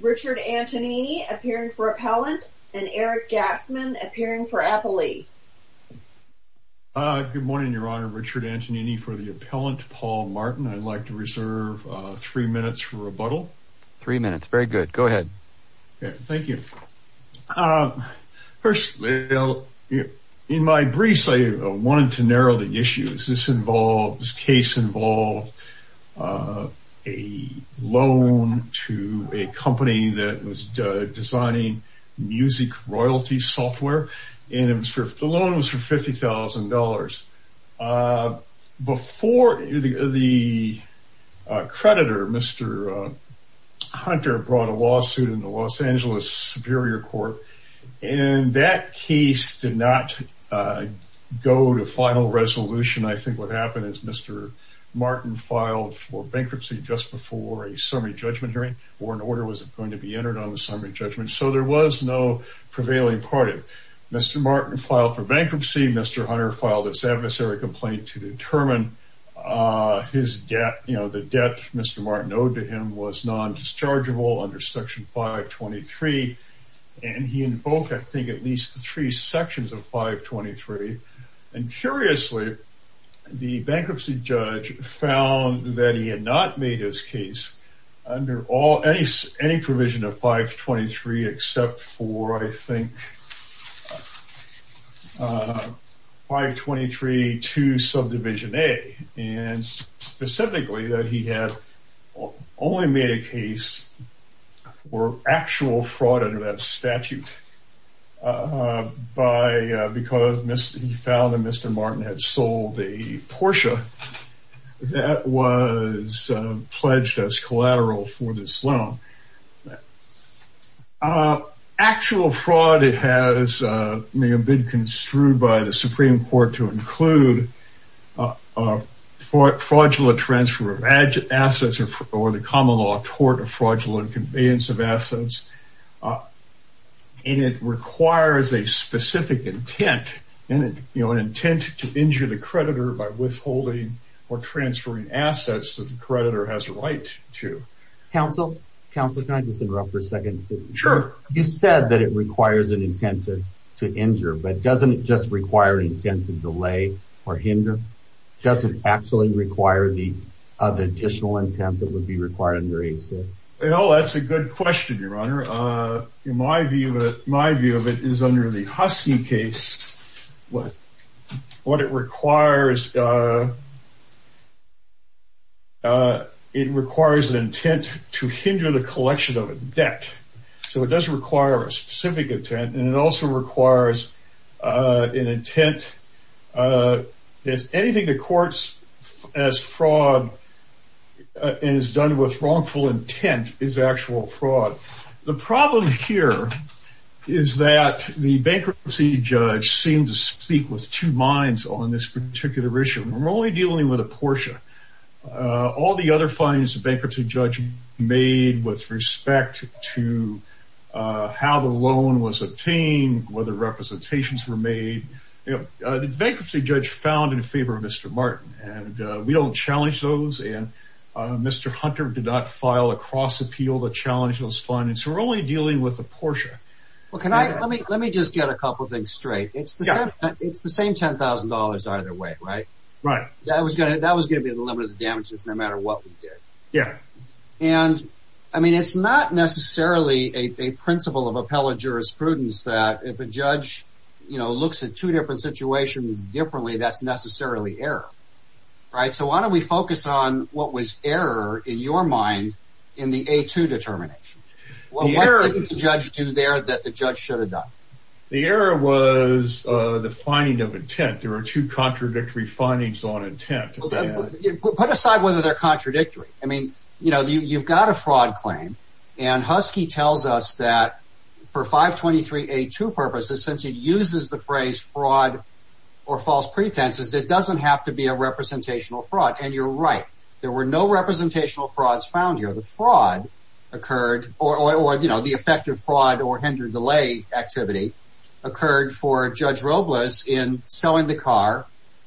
Richard Antonini, appearing for appellant, and Eric Gassman, appearing for appellee. Good morning, Your Honor. Richard Antonini for the appellant, Paul Martin. I'd like to reserve three minutes for rebuttal. Three minutes. Very good. Go ahead. Thank you. First, in my briefs, I wanted to narrow the issues. This case involved a loan to a company that was designing music royalty software, and the loan was for $50,000. Before the creditor, Mr. Hunter, brought a lawsuit in the Los Angeles Superior Court, and that case did not go to final resolution. I think what happened is Mr. Martin filed for bankruptcy just before a summary judgment hearing, or an order was going to be entered on the summary judgment. So there was no prevailing party. Mr. Martin filed for bankruptcy. Mr. Hunter filed this adversary complaint to determine the debt Mr. Martin owed to him was non-dischargeable under Section 523. And he invoked, I think, at least three sections of 523. And curiously, the bankruptcy judge found that he had not made his case under any provision of 523, except for, I think, 523 to subdivision A. And specifically, that he had only made a case for actual fraud under that statute because he found that Mr. Martin had sold a Porsche that was pledged as collateral for this loan. Actual fraud has been construed by the Supreme Court to include fraudulent transfer of assets or the common law tort of fraudulent conveyance of assets. And it requires a specific intent, an intent to injure the creditor by withholding or transferring assets that the creditor has a right to. Counsel, counsel, can I just interrupt for a second? Sure. You said that it requires an intent to injure, but doesn't it just require an intent to delay or hinder? Does it actually require the additional intent that would be required under ACIP? Well, that's a good question, Your Honor. In my view, my view of it is under the Husky case, what it requires, it requires an intent to hinder the collection of debt. So it does require a specific intent, and it also requires an intent if anything to courts as fraud is done with wrongful intent is actual fraud. The problem here is that the bankruptcy judge seemed to speak with two minds on this particular issue. We're only dealing with a portion. All the other findings the bankruptcy judge made with respect to how the loan was obtained, whether representations were made, the bankruptcy judge found in favor of Mr. Martin. And we don't challenge those, and Mr. Hunter did not file a cross-appeal to challenge those findings. We're only dealing with a portion. Well, let me just get a couple things straight. It's the same $10,000 either way, right? Right. That was going to be the limit of the damages no matter what we did. Yeah. And, I mean, it's not necessarily a principle of appellate jurisprudence that if a judge, you know, looks at two different situations differently, that's necessarily error, right? So why don't we focus on what was error in your mind in the A2 determination? What couldn't the judge do there that the judge should have done? The error was the finding of intent. There were two contradictory findings on intent. Put aside whether they're contradictory. I mean, you know, you've got a fraud claim, and Husky tells us that for 523A2 purposes, since it uses the phrase fraud or false pretenses, it doesn't have to be a representational fraud. And you're right. There were no representational frauds found here. The fraud occurred, or, you know, the effective fraud or hindered delay activity occurred for Judge Robles in selling the car,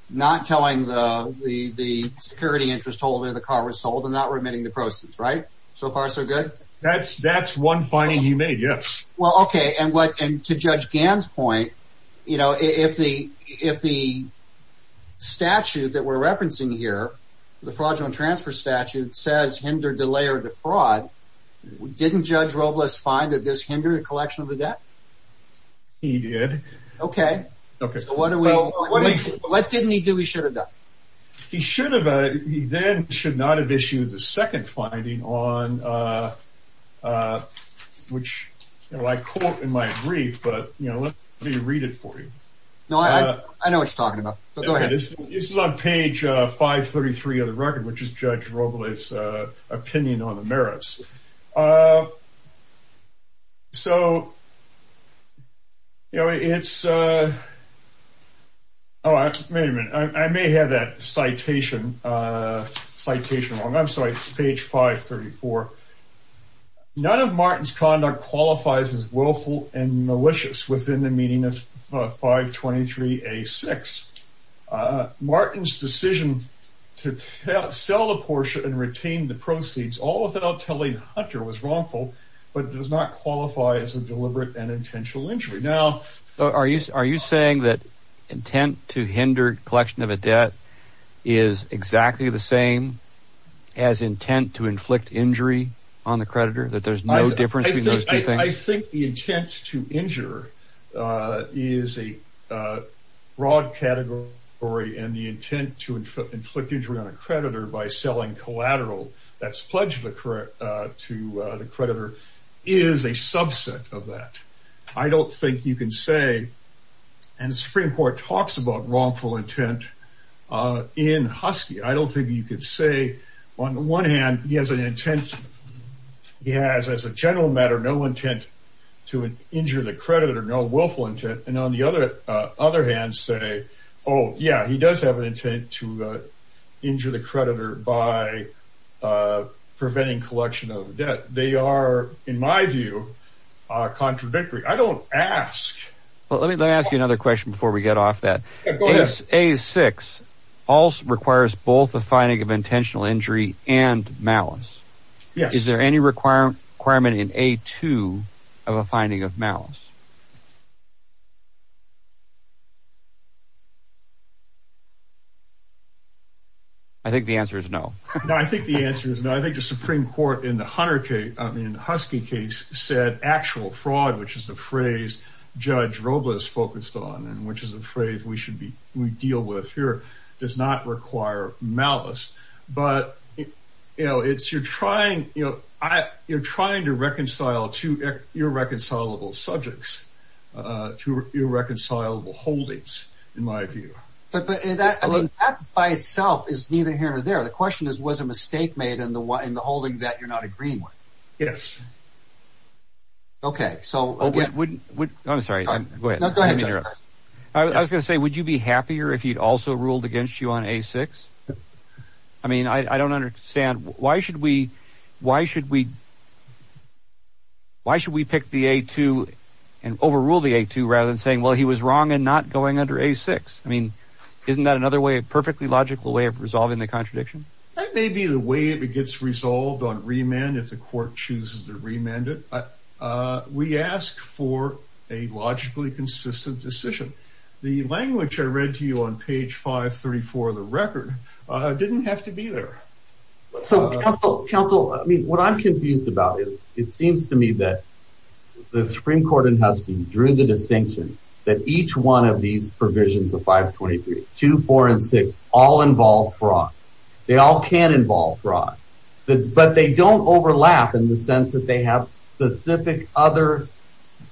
not telling the security interest holder the car was sold, and not remitting the proceeds, right? So far so good? That's one finding he made, yes. Well, okay, and to Judge Gann's point, you know, if the statute that we're referencing here, the fraudulent transfer statute, says hinder, delay, or defraud, didn't Judge Robles find that this hindered the collection of the debt? He did. Okay. So what didn't he do he should have done? He should have, he then should not have issued the second finding on, which, you know, I quote in my brief, but, you know, let me read it for you. No, I know what you're talking about. Go ahead. This is on page 533 of the record, which is Judge Robles' opinion on the merits. So, you know, it's, oh, wait a minute. I may have that citation wrong. I'm sorry, page 534. None of Martin's conduct qualifies as willful and malicious within the meaning of 523A6. Martin's decision to sell the Porsche and retain the proceeds, all without telling Hunter, was wrongful, but does not qualify as a deliberate and intentional injury. Are you saying that intent to hinder collection of a debt is exactly the same as intent to inflict injury on the creditor? That there's no difference between those two things? I think the intent to injure is a broad category, and the intent to inflict injury on a creditor by selling collateral, that's pledge to the creditor, is a subset of that. I don't think you can say, and the Supreme Court talks about wrongful intent in Husky. I don't think you could say, on the one hand, he has an intent, he has, as a general matter, no intent to injure the creditor, no willful intent. And on the other hand, say, oh, yeah, he does have an intent to injure the creditor by preventing collection of debt. They are, in my view, contradictory. I don't ask. Well, let me ask you another question before we get off that. Go ahead. A6 also requires both a finding of intentional injury and malice. Yes. Is there any requirement in A2 of a finding of malice? I think the answer is no. No, I think the answer is no. I think the Supreme Court in the Husky case said actual fraud, which is the phrase Judge Robles focused on and which is a phrase we deal with here, does not require malice. But you're trying to reconcile two irreconcilable subjects, two irreconcilable holdings, in my view. But that by itself is neither here nor there. The question is was a mistake made in the holding that you're not agreeing with? Yes. Okay. I'm sorry. Go ahead. I was going to say, would you be happier if he'd also ruled against you on A6? I mean, I don't understand. Why should we pick the A2 and overrule the A2 rather than saying, well, he was wrong and not going under A6? I mean, isn't that another way, a perfectly logical way of resolving the contradiction? That may be the way it gets resolved on remand if the court chooses to remand it. We ask for a logically consistent decision. The language I read to you on page 534 of the record didn't have to be there. So, counsel, I mean, what I'm confused about is it seems to me that the Supreme Court in Huston drew the distinction that each one of these provisions of 523, 2, 4, and 6, all involve fraud. They all can involve fraud. But they don't overlap in the sense that they have specific other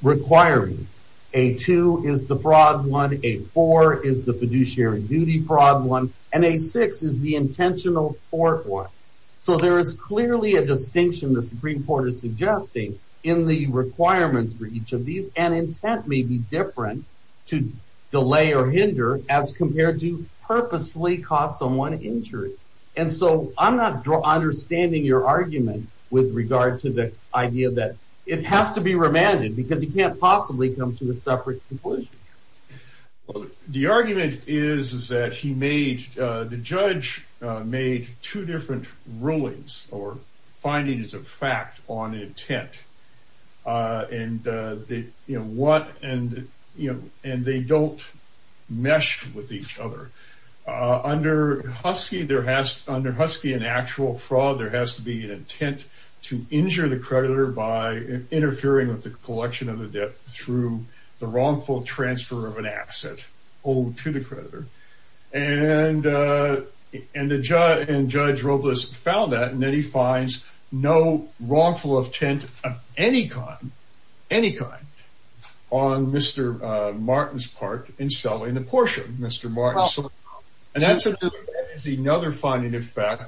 requirements. A2 is the fraud one. A4 is the fiduciary duty fraud one. And A6 is the intentional tort one. So there is clearly a distinction the Supreme Court is suggesting in the requirements for each of these. And intent may be different to delay or hinder as compared to purposely cause someone injury. And so I'm not understanding your argument with regard to the idea that it has to be remanded because you can't possibly come to a separate conclusion. The argument is that the judge made two different rulings or findings of fact on intent. And they don't mesh with each other. Under Husky, in actual fraud, there has to be an intent to injure the creditor by interfering with the collection of the debt through the wrongful transfer of an asset owed to the creditor. And Judge Robles found that. And then he finds no wrongful intent of any kind on Mr. Martin's part in selling the Porsche to Mr. Martin. And that's another finding of fact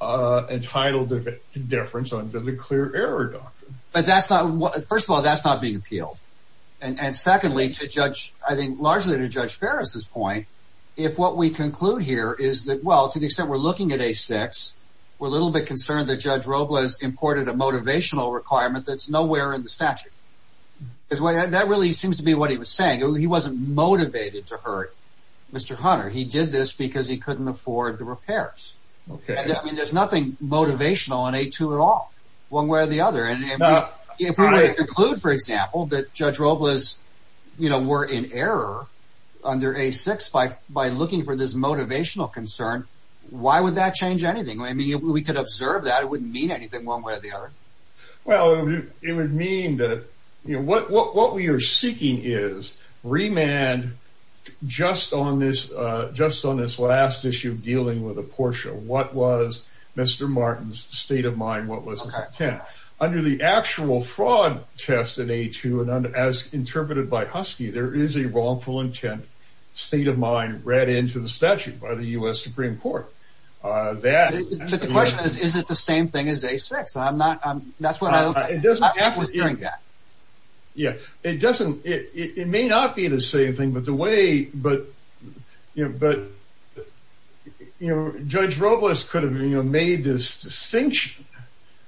entitled to indifference under the clear error doctrine. But first of all, that's not being appealed. And secondly, I think largely to Judge Ferris' point, if what we conclude here is that, well, to the extent we're looking at A6, we're a little bit concerned that Judge Robles imported a motivational requirement that's nowhere in the statute. That really seems to be what he was saying. He wasn't motivated to hurt Mr. Hunter. He did this because he couldn't afford the repairs. And there's nothing motivational in A2 at all, one way or the other. If we were to conclude, for example, that Judge Robles were in error under A6 by looking for this motivational concern, why would that change anything? I mean, if we could observe that, it wouldn't mean anything one way or the other. Well, it would mean that what we are seeking is remand just on this last issue dealing with the Porsche. What was Mr. Martin's state of mind? Under the actual fraud test in A2, as interpreted by Husky, there is a wrongful intent state of mind read into the statute by the U.S. Supreme Court. But the question is, is it the same thing as A6? I'm not— It doesn't have to be. It may not be the same thing, but Judge Robles could have made this distinction.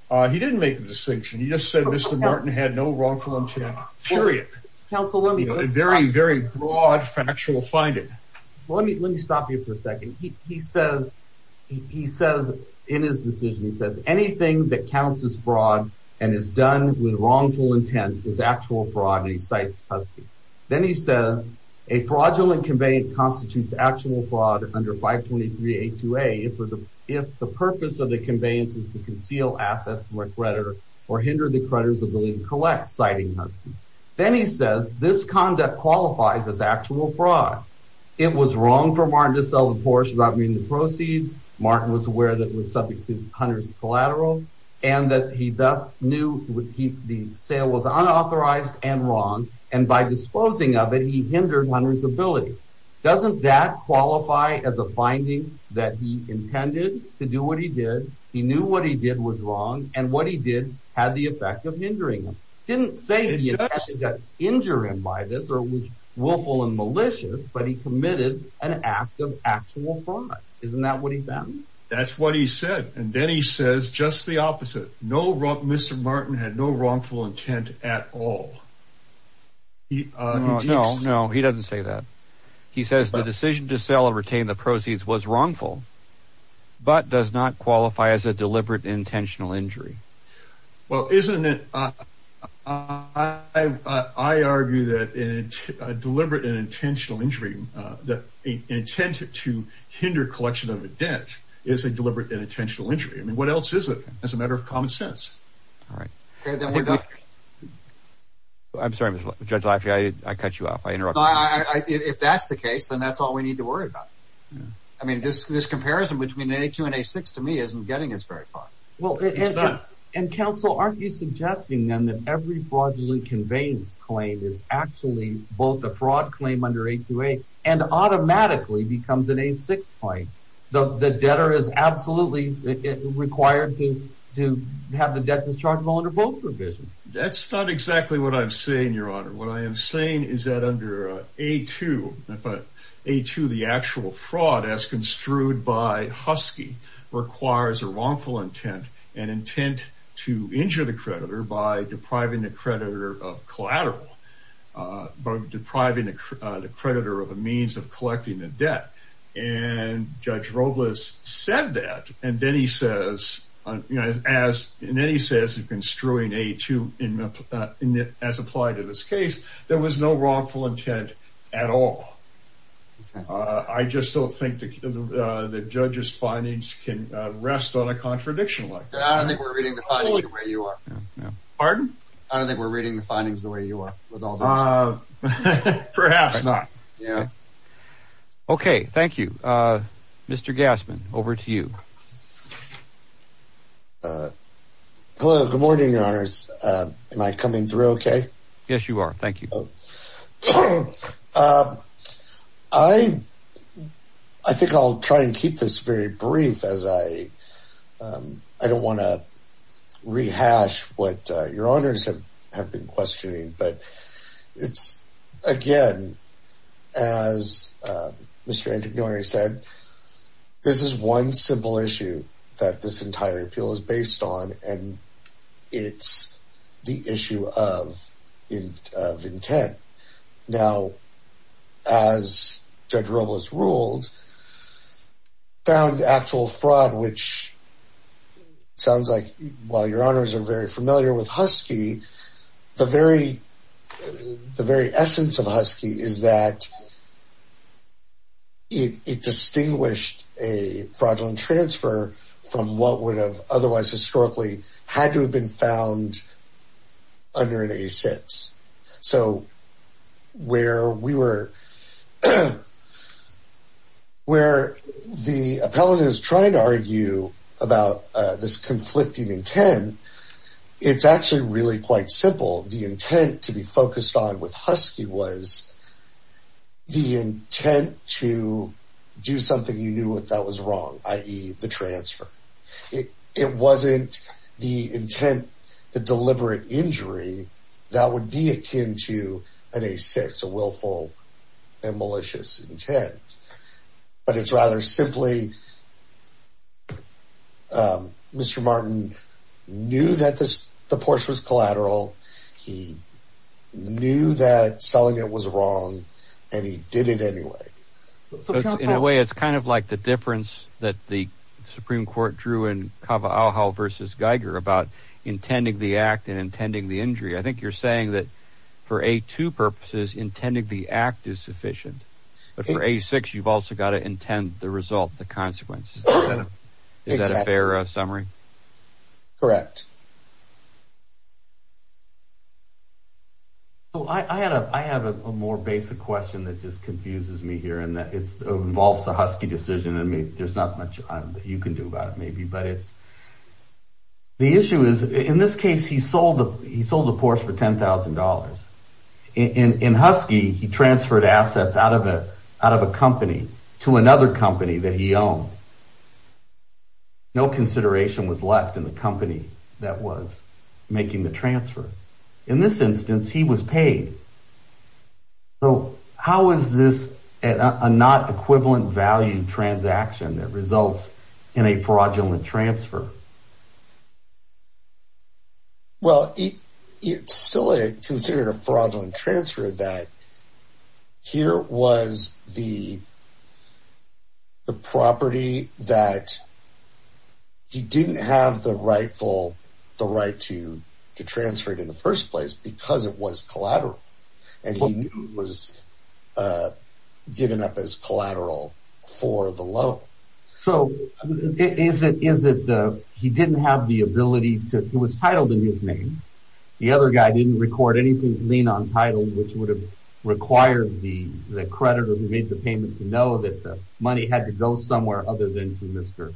He didn't make the distinction. He just said Mr. Martin had no wrongful intent, period. Counsel, let me— A very, very broad factual finding. Let me stop you for a second. He says in his decision, he says, anything that counts as fraud and is done with wrongful intent is actual fraud, and he cites Husky. Then he says, a fraudulent conveyance constitutes actual fraud under 523A2A if the purpose of the conveyance is to conceal assets from a creditor or hinder the creditor's ability to collect, citing Husky. Then he says, this conduct qualifies as actual fraud. It was wrong for Martin to sell the Porsche without meeting the proceeds. Martin was aware that it was subject to Hunter's collateral and that he thus knew the sale was unauthorized and wrong, and by disposing of it, he hindered Hunter's ability. Doesn't that qualify as a finding that he intended to do what he did, he knew what he did was wrong, and what he did had the effect of hindering him? He didn't say he got injured by this or was willful and malicious, but he committed an act of actual fraud. Isn't that what he found? That's what he said. And then he says just the opposite. Mr. Martin had no wrongful intent at all. No, no, he doesn't say that. He says the decision to sell and retain the proceeds was wrongful, but does not qualify as a deliberate intentional injury. Well, isn't it? I argue that deliberate and intentional injury, the intent to hinder collection of a debt, is a deliberate and intentional injury. I mean, what else is it as a matter of common sense? All right. I'm sorry, Judge Leifert, I cut you off. If that's the case, then that's all we need to worry about. I mean, this comparison between an A2 and an A6 to me isn't getting us very far. Well, and counsel, aren't you suggesting then that every fraudulent conveyance claim is actually both a fraud claim under A2A and automatically becomes an A6 claim? The debtor is absolutely required to have the debtors charged under both provisions. That's not exactly what I'm saying, Your Honor. What I am saying is that under A2, the actual fraud as construed by Husky requires a wrongful intent, an intent to injure the creditor by depriving the creditor of collateral, by depriving the creditor of a means of collecting the debt. And Judge Robles said that. And then he says, as construing A2 as applied in this case, there was no wrongful intent at all. I just don't think the judge's findings can rest on a contradiction like that. I don't think we're reading the findings the way you are. Pardon? I don't think we're reading the findings the way you are. Perhaps not. Yeah. Okay. Thank you. Mr. Gassman, over to you. Hello. Good morning, Your Honors. Am I coming through okay? Yes, you are. Thank you. I think I'll try and keep this very brief as I don't want to rehash what Your Honors have been questioning. But it's, again, as Mr. Antignori said, this is one simple issue that this entire appeal is based on, and it's the issue of intent. Now, as Judge Robles ruled, found actual fraud, which sounds like, while Your Honors are very familiar with Husky, the very essence of Husky is that it distinguished a fraudulent transfer from what would have otherwise historically had to have been found under an A6. So where the appellant is trying to argue about this conflicting intent, it's actually really quite simple. The intent to be focused on with Husky was the intent to do something you knew that was wrong, i.e., the transfer. It wasn't the intent to deliberate injury that would be akin to an A6, a willful and malicious intent. But it's rather simply Mr. Martin knew that the Porsche was collateral. He knew that selling it was wrong, and he did it anyway. In a way, it's kind of like the difference that the Supreme Court drew in Kava'ohau v. Geiger about intending the act and intending the injury. I think you're saying that for A2 purposes, intending the act is sufficient. But for A6, you've also got to intend the result, the consequences. Is that a fair summary? Correct. I have a more basic question that just confuses me here. It involves the Husky decision. There's not much you can do about it, maybe. The issue is, in this case, he sold the Porsche for $10,000. In Husky, he transferred assets out of a company to another company that he owned. No consideration was left in the company that was making the transfer. In this instance, he was paid. How is this a not-equivalent-value transaction that results in a fraudulent transfer? Well, it's still considered a fraudulent transfer. Here was the property that he didn't have the right to transfer it in the first place because it was collateral. And he knew it was given up as collateral for the loan. So, is it that he didn't have the ability to... It was titled in his name. The other guy didn't record anything lien-untitled, which would have required the creditor who made the payment to know that the money had to go somewhere other than to Mr.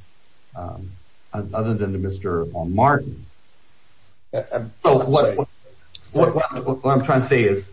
Martin. What I'm trying to say is,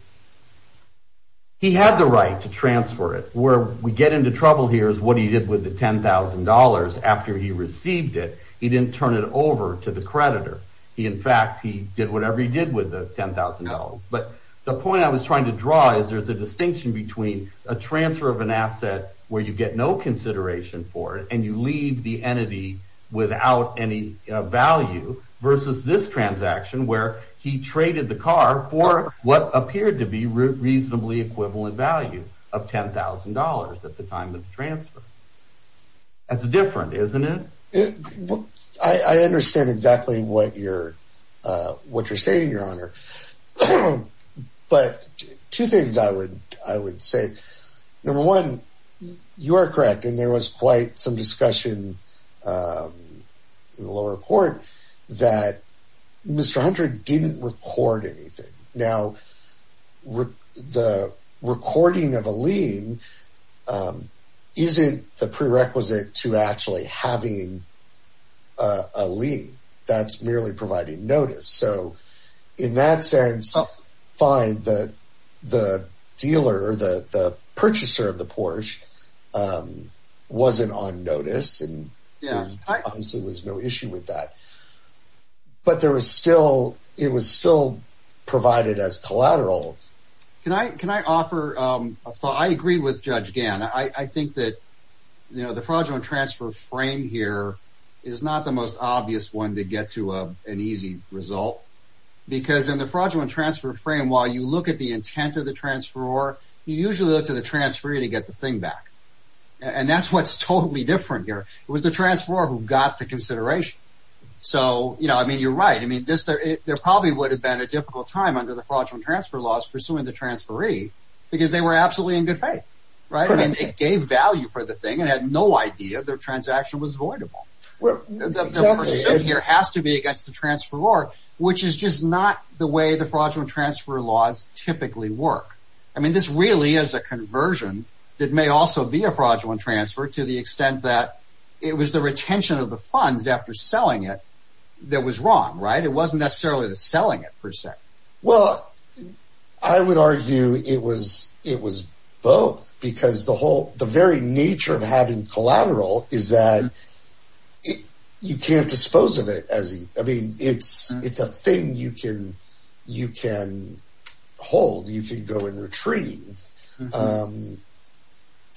he had the right to transfer it. Where we get into trouble here is what he did with the $10,000 after he received it. He didn't turn it over to the creditor. In fact, he did whatever he did with the $10,000. The point I was trying to draw is there's a distinction between a transfer of an asset where you get no consideration for it, and you leave the entity without any value, versus this transaction where he traded the car for what appeared to be reasonably equivalent value of $10,000 at the time of the transfer. That's different, isn't it? I understand exactly what you're saying, Your Honor. But two things I would say. Number one, you are correct, and there was quite some discussion in the lower court that Mr. Hunter didn't record anything. Now, the recording of a lien isn't the prerequisite to actually having a lien. That's merely providing notice. In that sense, fine, the dealer, the purchaser of the Porsche wasn't on notice, and there obviously was no issue with that. But it was still provided as collateral. Can I offer a thought? I agree with Judge Gann. I think that the fraudulent transfer frame here is not the most obvious one to get to an easy result. Because in the fraudulent transfer frame, while you look at the intent of the transferor, you usually look to the transferor to get the thing back. And that's what's totally different here. It was the transferor who got the consideration. You're right. There probably would have been a difficult time under the fraudulent transfer laws pursuing the transferee because they were absolutely in good faith. They gave value for the thing and had no idea their transaction was voidable. The pursuit here has to be against the transferor, which is just not the way the fraudulent transfer laws typically work. I mean, this really is a conversion that may also be a fraudulent transfer to the extent that it was the retention of the funds after selling it that was wrong, right? It wasn't necessarily the selling it, per se. Well, I would argue it was both because the very nature of having collateral is that you can't dispose of it. I mean, it's a thing you can hold. You can go and retrieve. But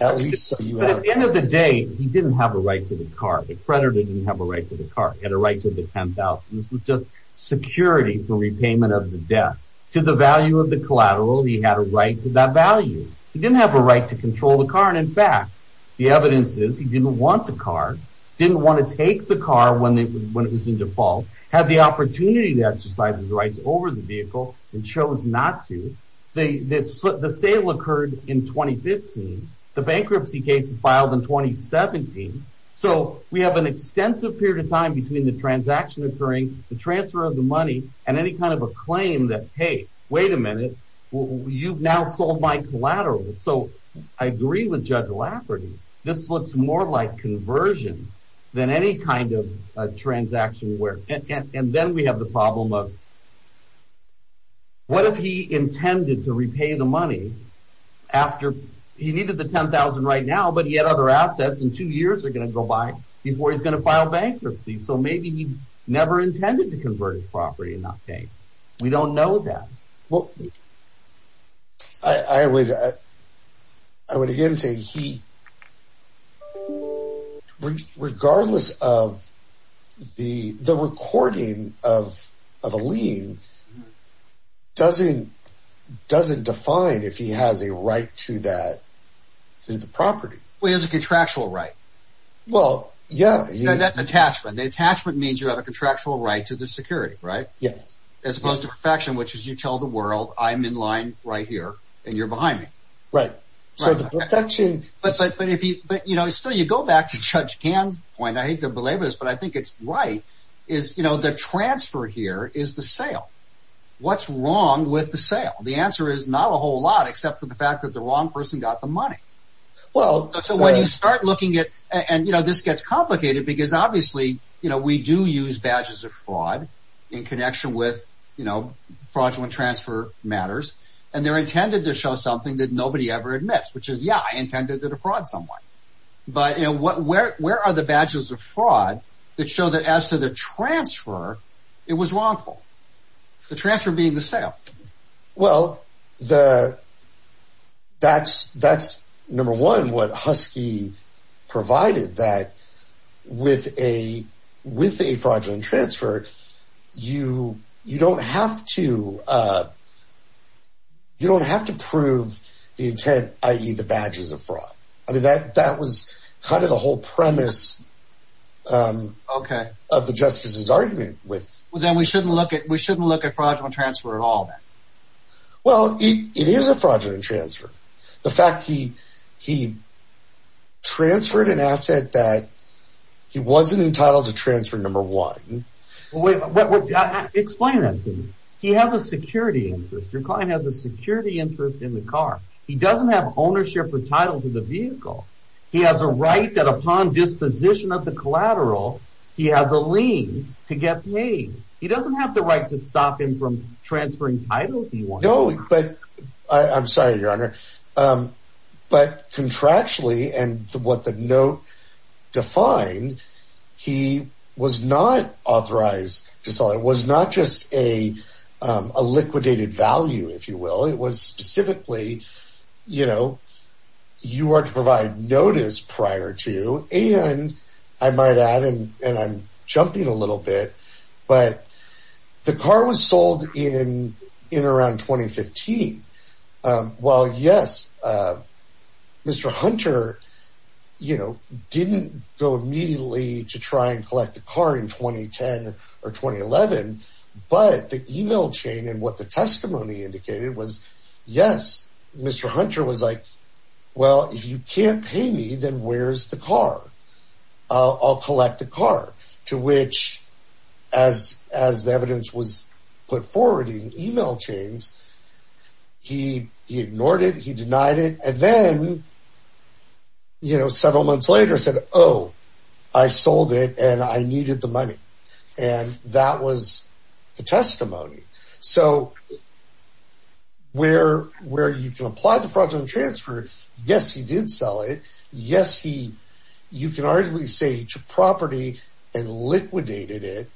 at the end of the day, he didn't have a right to the car. The creditor didn't have a right to the car. He had a right to the $10,000. This was just security for repayment of the debt. To the value of the collateral, he had a right to that value. He didn't have a right to control the car. And, in fact, the evidence is he didn't want the car, didn't want to take the car when it was in default, had the opportunity to exercise his rights over the vehicle and chose not to. The sale occurred in 2015. The bankruptcy case was filed in 2017. So we have an extensive period of time between the transaction occurring, the transfer of the money, and any kind of a claim that, hey, wait a minute, you've now sold my collateral. So I agree with Judge Lafferty. This looks more like conversion than any kind of transaction. And then we have the problem of what if he intended to repay the money after he needed the $10,000 right now, but he had other assets, and two years are going to go by before he's going to file bankruptcy. So maybe he never intended to convert his property and not pay. We don't know that. Well, I would again say he, regardless of the recording of a lien, doesn't define if he has a right to that property. Well, he has a contractual right. Well, yeah. And that's attachment. The attachment means you have a contractual right to the security, right? Yes. As opposed to perfection, which is you tell the world, I'm in line right here, and you're behind me. Right. So the perfection... But still, you go back to Judge Kahn's point, I hate to belabor this, but I think it's right, is the transfer here is the sale. What's wrong with the sale? The answer is not a whole lot except for the fact that the wrong person got the money. So when you start looking at... And this gets complicated because obviously we do use badges of fraud in connection with fraudulent transfer matters, and they're intended to show something that nobody ever admits, which is, yeah, I intended to defraud someone. But where are the badges of fraud that show that as to the transfer, it was wrongful? The transfer being the sale. Well, that's, number one, what Husky provided, that with a fraudulent transfer, you don't have to prove the intent, i.e., the badges of fraud. I mean, that was kind of the whole premise of the justices' argument with... Well, it is a fraudulent transfer. The fact he transferred an asset that he wasn't entitled to transfer, number one... Explain that to me. He has a security interest. Your client has a security interest in the car. He doesn't have ownership or title to the vehicle. He has a right that upon disposition of the collateral, he has a lien to get paid. He doesn't have the right to stop him from transferring title if he wants to. No, but I'm sorry, Your Honor. But contractually and what the note defined, he was not authorized to sell it. It was not just a liquidated value, if you will. It was specifically, you know, you are to provide notice prior to, and I might add, and I'm jumping a little bit, but the car was sold in around 2015. Well, yes, Mr. Hunter, you know, didn't go immediately to try and collect the car in 2010 or 2011, but the e-mail chain and what the testimony indicated was, yes, Mr. Hunter was like, well, if you can't pay me, then where's the car? I'll collect the car, to which, as the evidence was put forward in e-mail chains, he ignored it, he denied it, and then, you know, several months later said, oh, I sold it and I needed the money. So where you can apply the fraudulent transfer, yes, he did sell it. Yes, he, you can arguably say he took property and liquidated it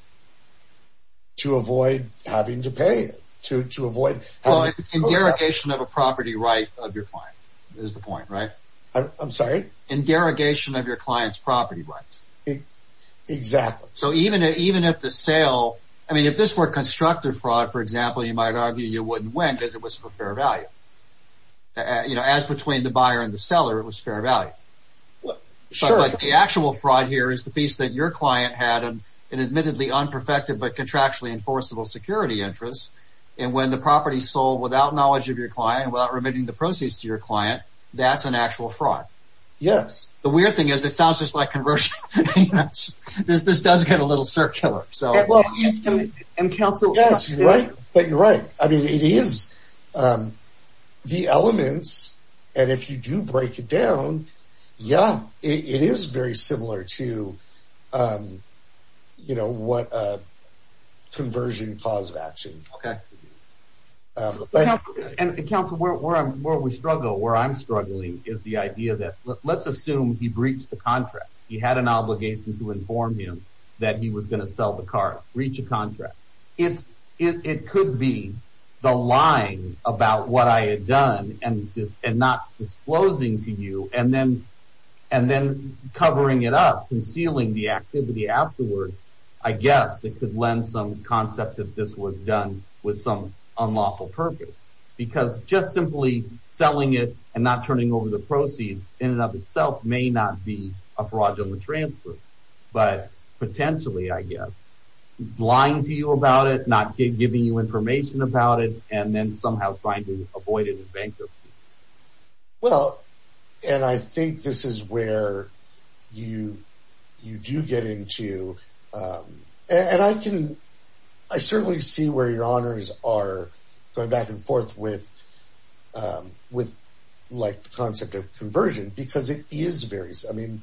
to avoid having to pay it, to avoid… Well, in derogation of a property right of your client is the point, right? I'm sorry? In derogation of your client's property rights. Exactly. So even if the sale, I mean, if this were constructive fraud, for example, you might argue you wouldn't win because it was for fair value. You know, as between the buyer and the seller, it was fair value. Sure. But the actual fraud here is the piece that your client had an admittedly unperfected but contractually enforceable security interest, and when the property is sold without knowledge of your client, without remitting the proceeds to your client, that's an actual fraud. Yes. The weird thing is it sounds just like conversion. This does get a little circular, so… And counsel… Yes, you're right. But you're right. I mean, it is the elements, and if you do break it down, yeah, it is very similar to, you know, what a conversion cause of action. Okay. And counsel, where we struggle, where I'm struggling, is the idea that let's assume he breached the contract. He had an obligation to inform him that he was going to sell the car, breach a contract. It could be the lying about what I had done and not disclosing to you, and then covering it up, concealing the activity afterwards. I guess it could lend some concept that this was done with some unlawful purpose, because just simply selling it and not turning over the proceeds in and of itself may not be a fraudulent transfer, but potentially, I guess, lying to you about it, not giving you information about it, and then somehow trying to avoid it in bankruptcy. Well, and I think this is where you do get into… And I can… I certainly see where your honors are going back and forth with, like, the concept of conversion, because it is very… I mean,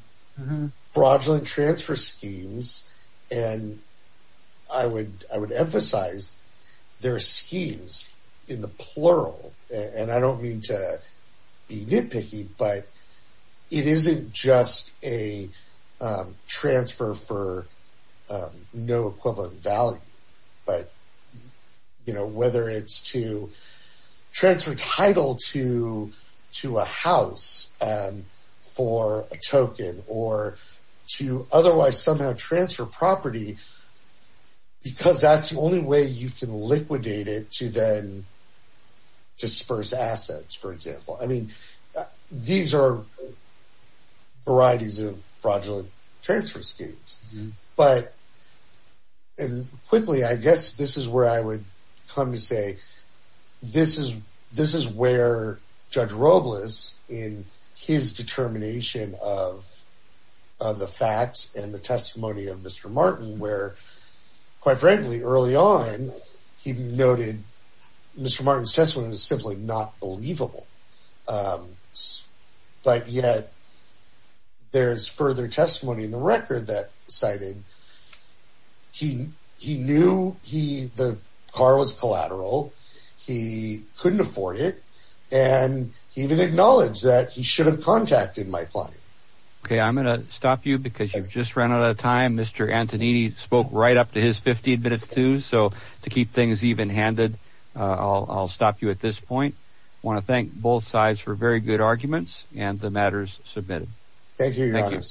fraudulent transfer schemes, and I would emphasize they're schemes in the plural. And I don't mean to be nitpicky, but it isn't just a transfer for no equivalent value. But, you know, whether it's to transfer title to a house for a token or to otherwise somehow transfer property, because that's the only way you can liquidate it to then disperse assets, for example. I mean, these are varieties of fraudulent transfer schemes. But, and quickly, I guess this is where I would come to say this is where Judge Robles, in his determination of the facts and the testimony of Mr. Martin, where, quite frankly, early on, he noted Mr. Martin's testimony was simply not believable. But yet, there's further testimony in the record that cited he knew the car was collateral, he couldn't afford it, and he even acknowledged that he should have contacted my client. Okay, I'm going to stop you because you've just run out of time. Mr. Antonini spoke right up to his 15 minutes, too, so to keep things even-handed, I'll stop you at this point. I want to thank both sides for very good arguments and the matters submitted. Thank you, Your Honor. Thank you.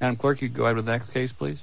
Madam Clerk, you'd go ahead with the next case, please.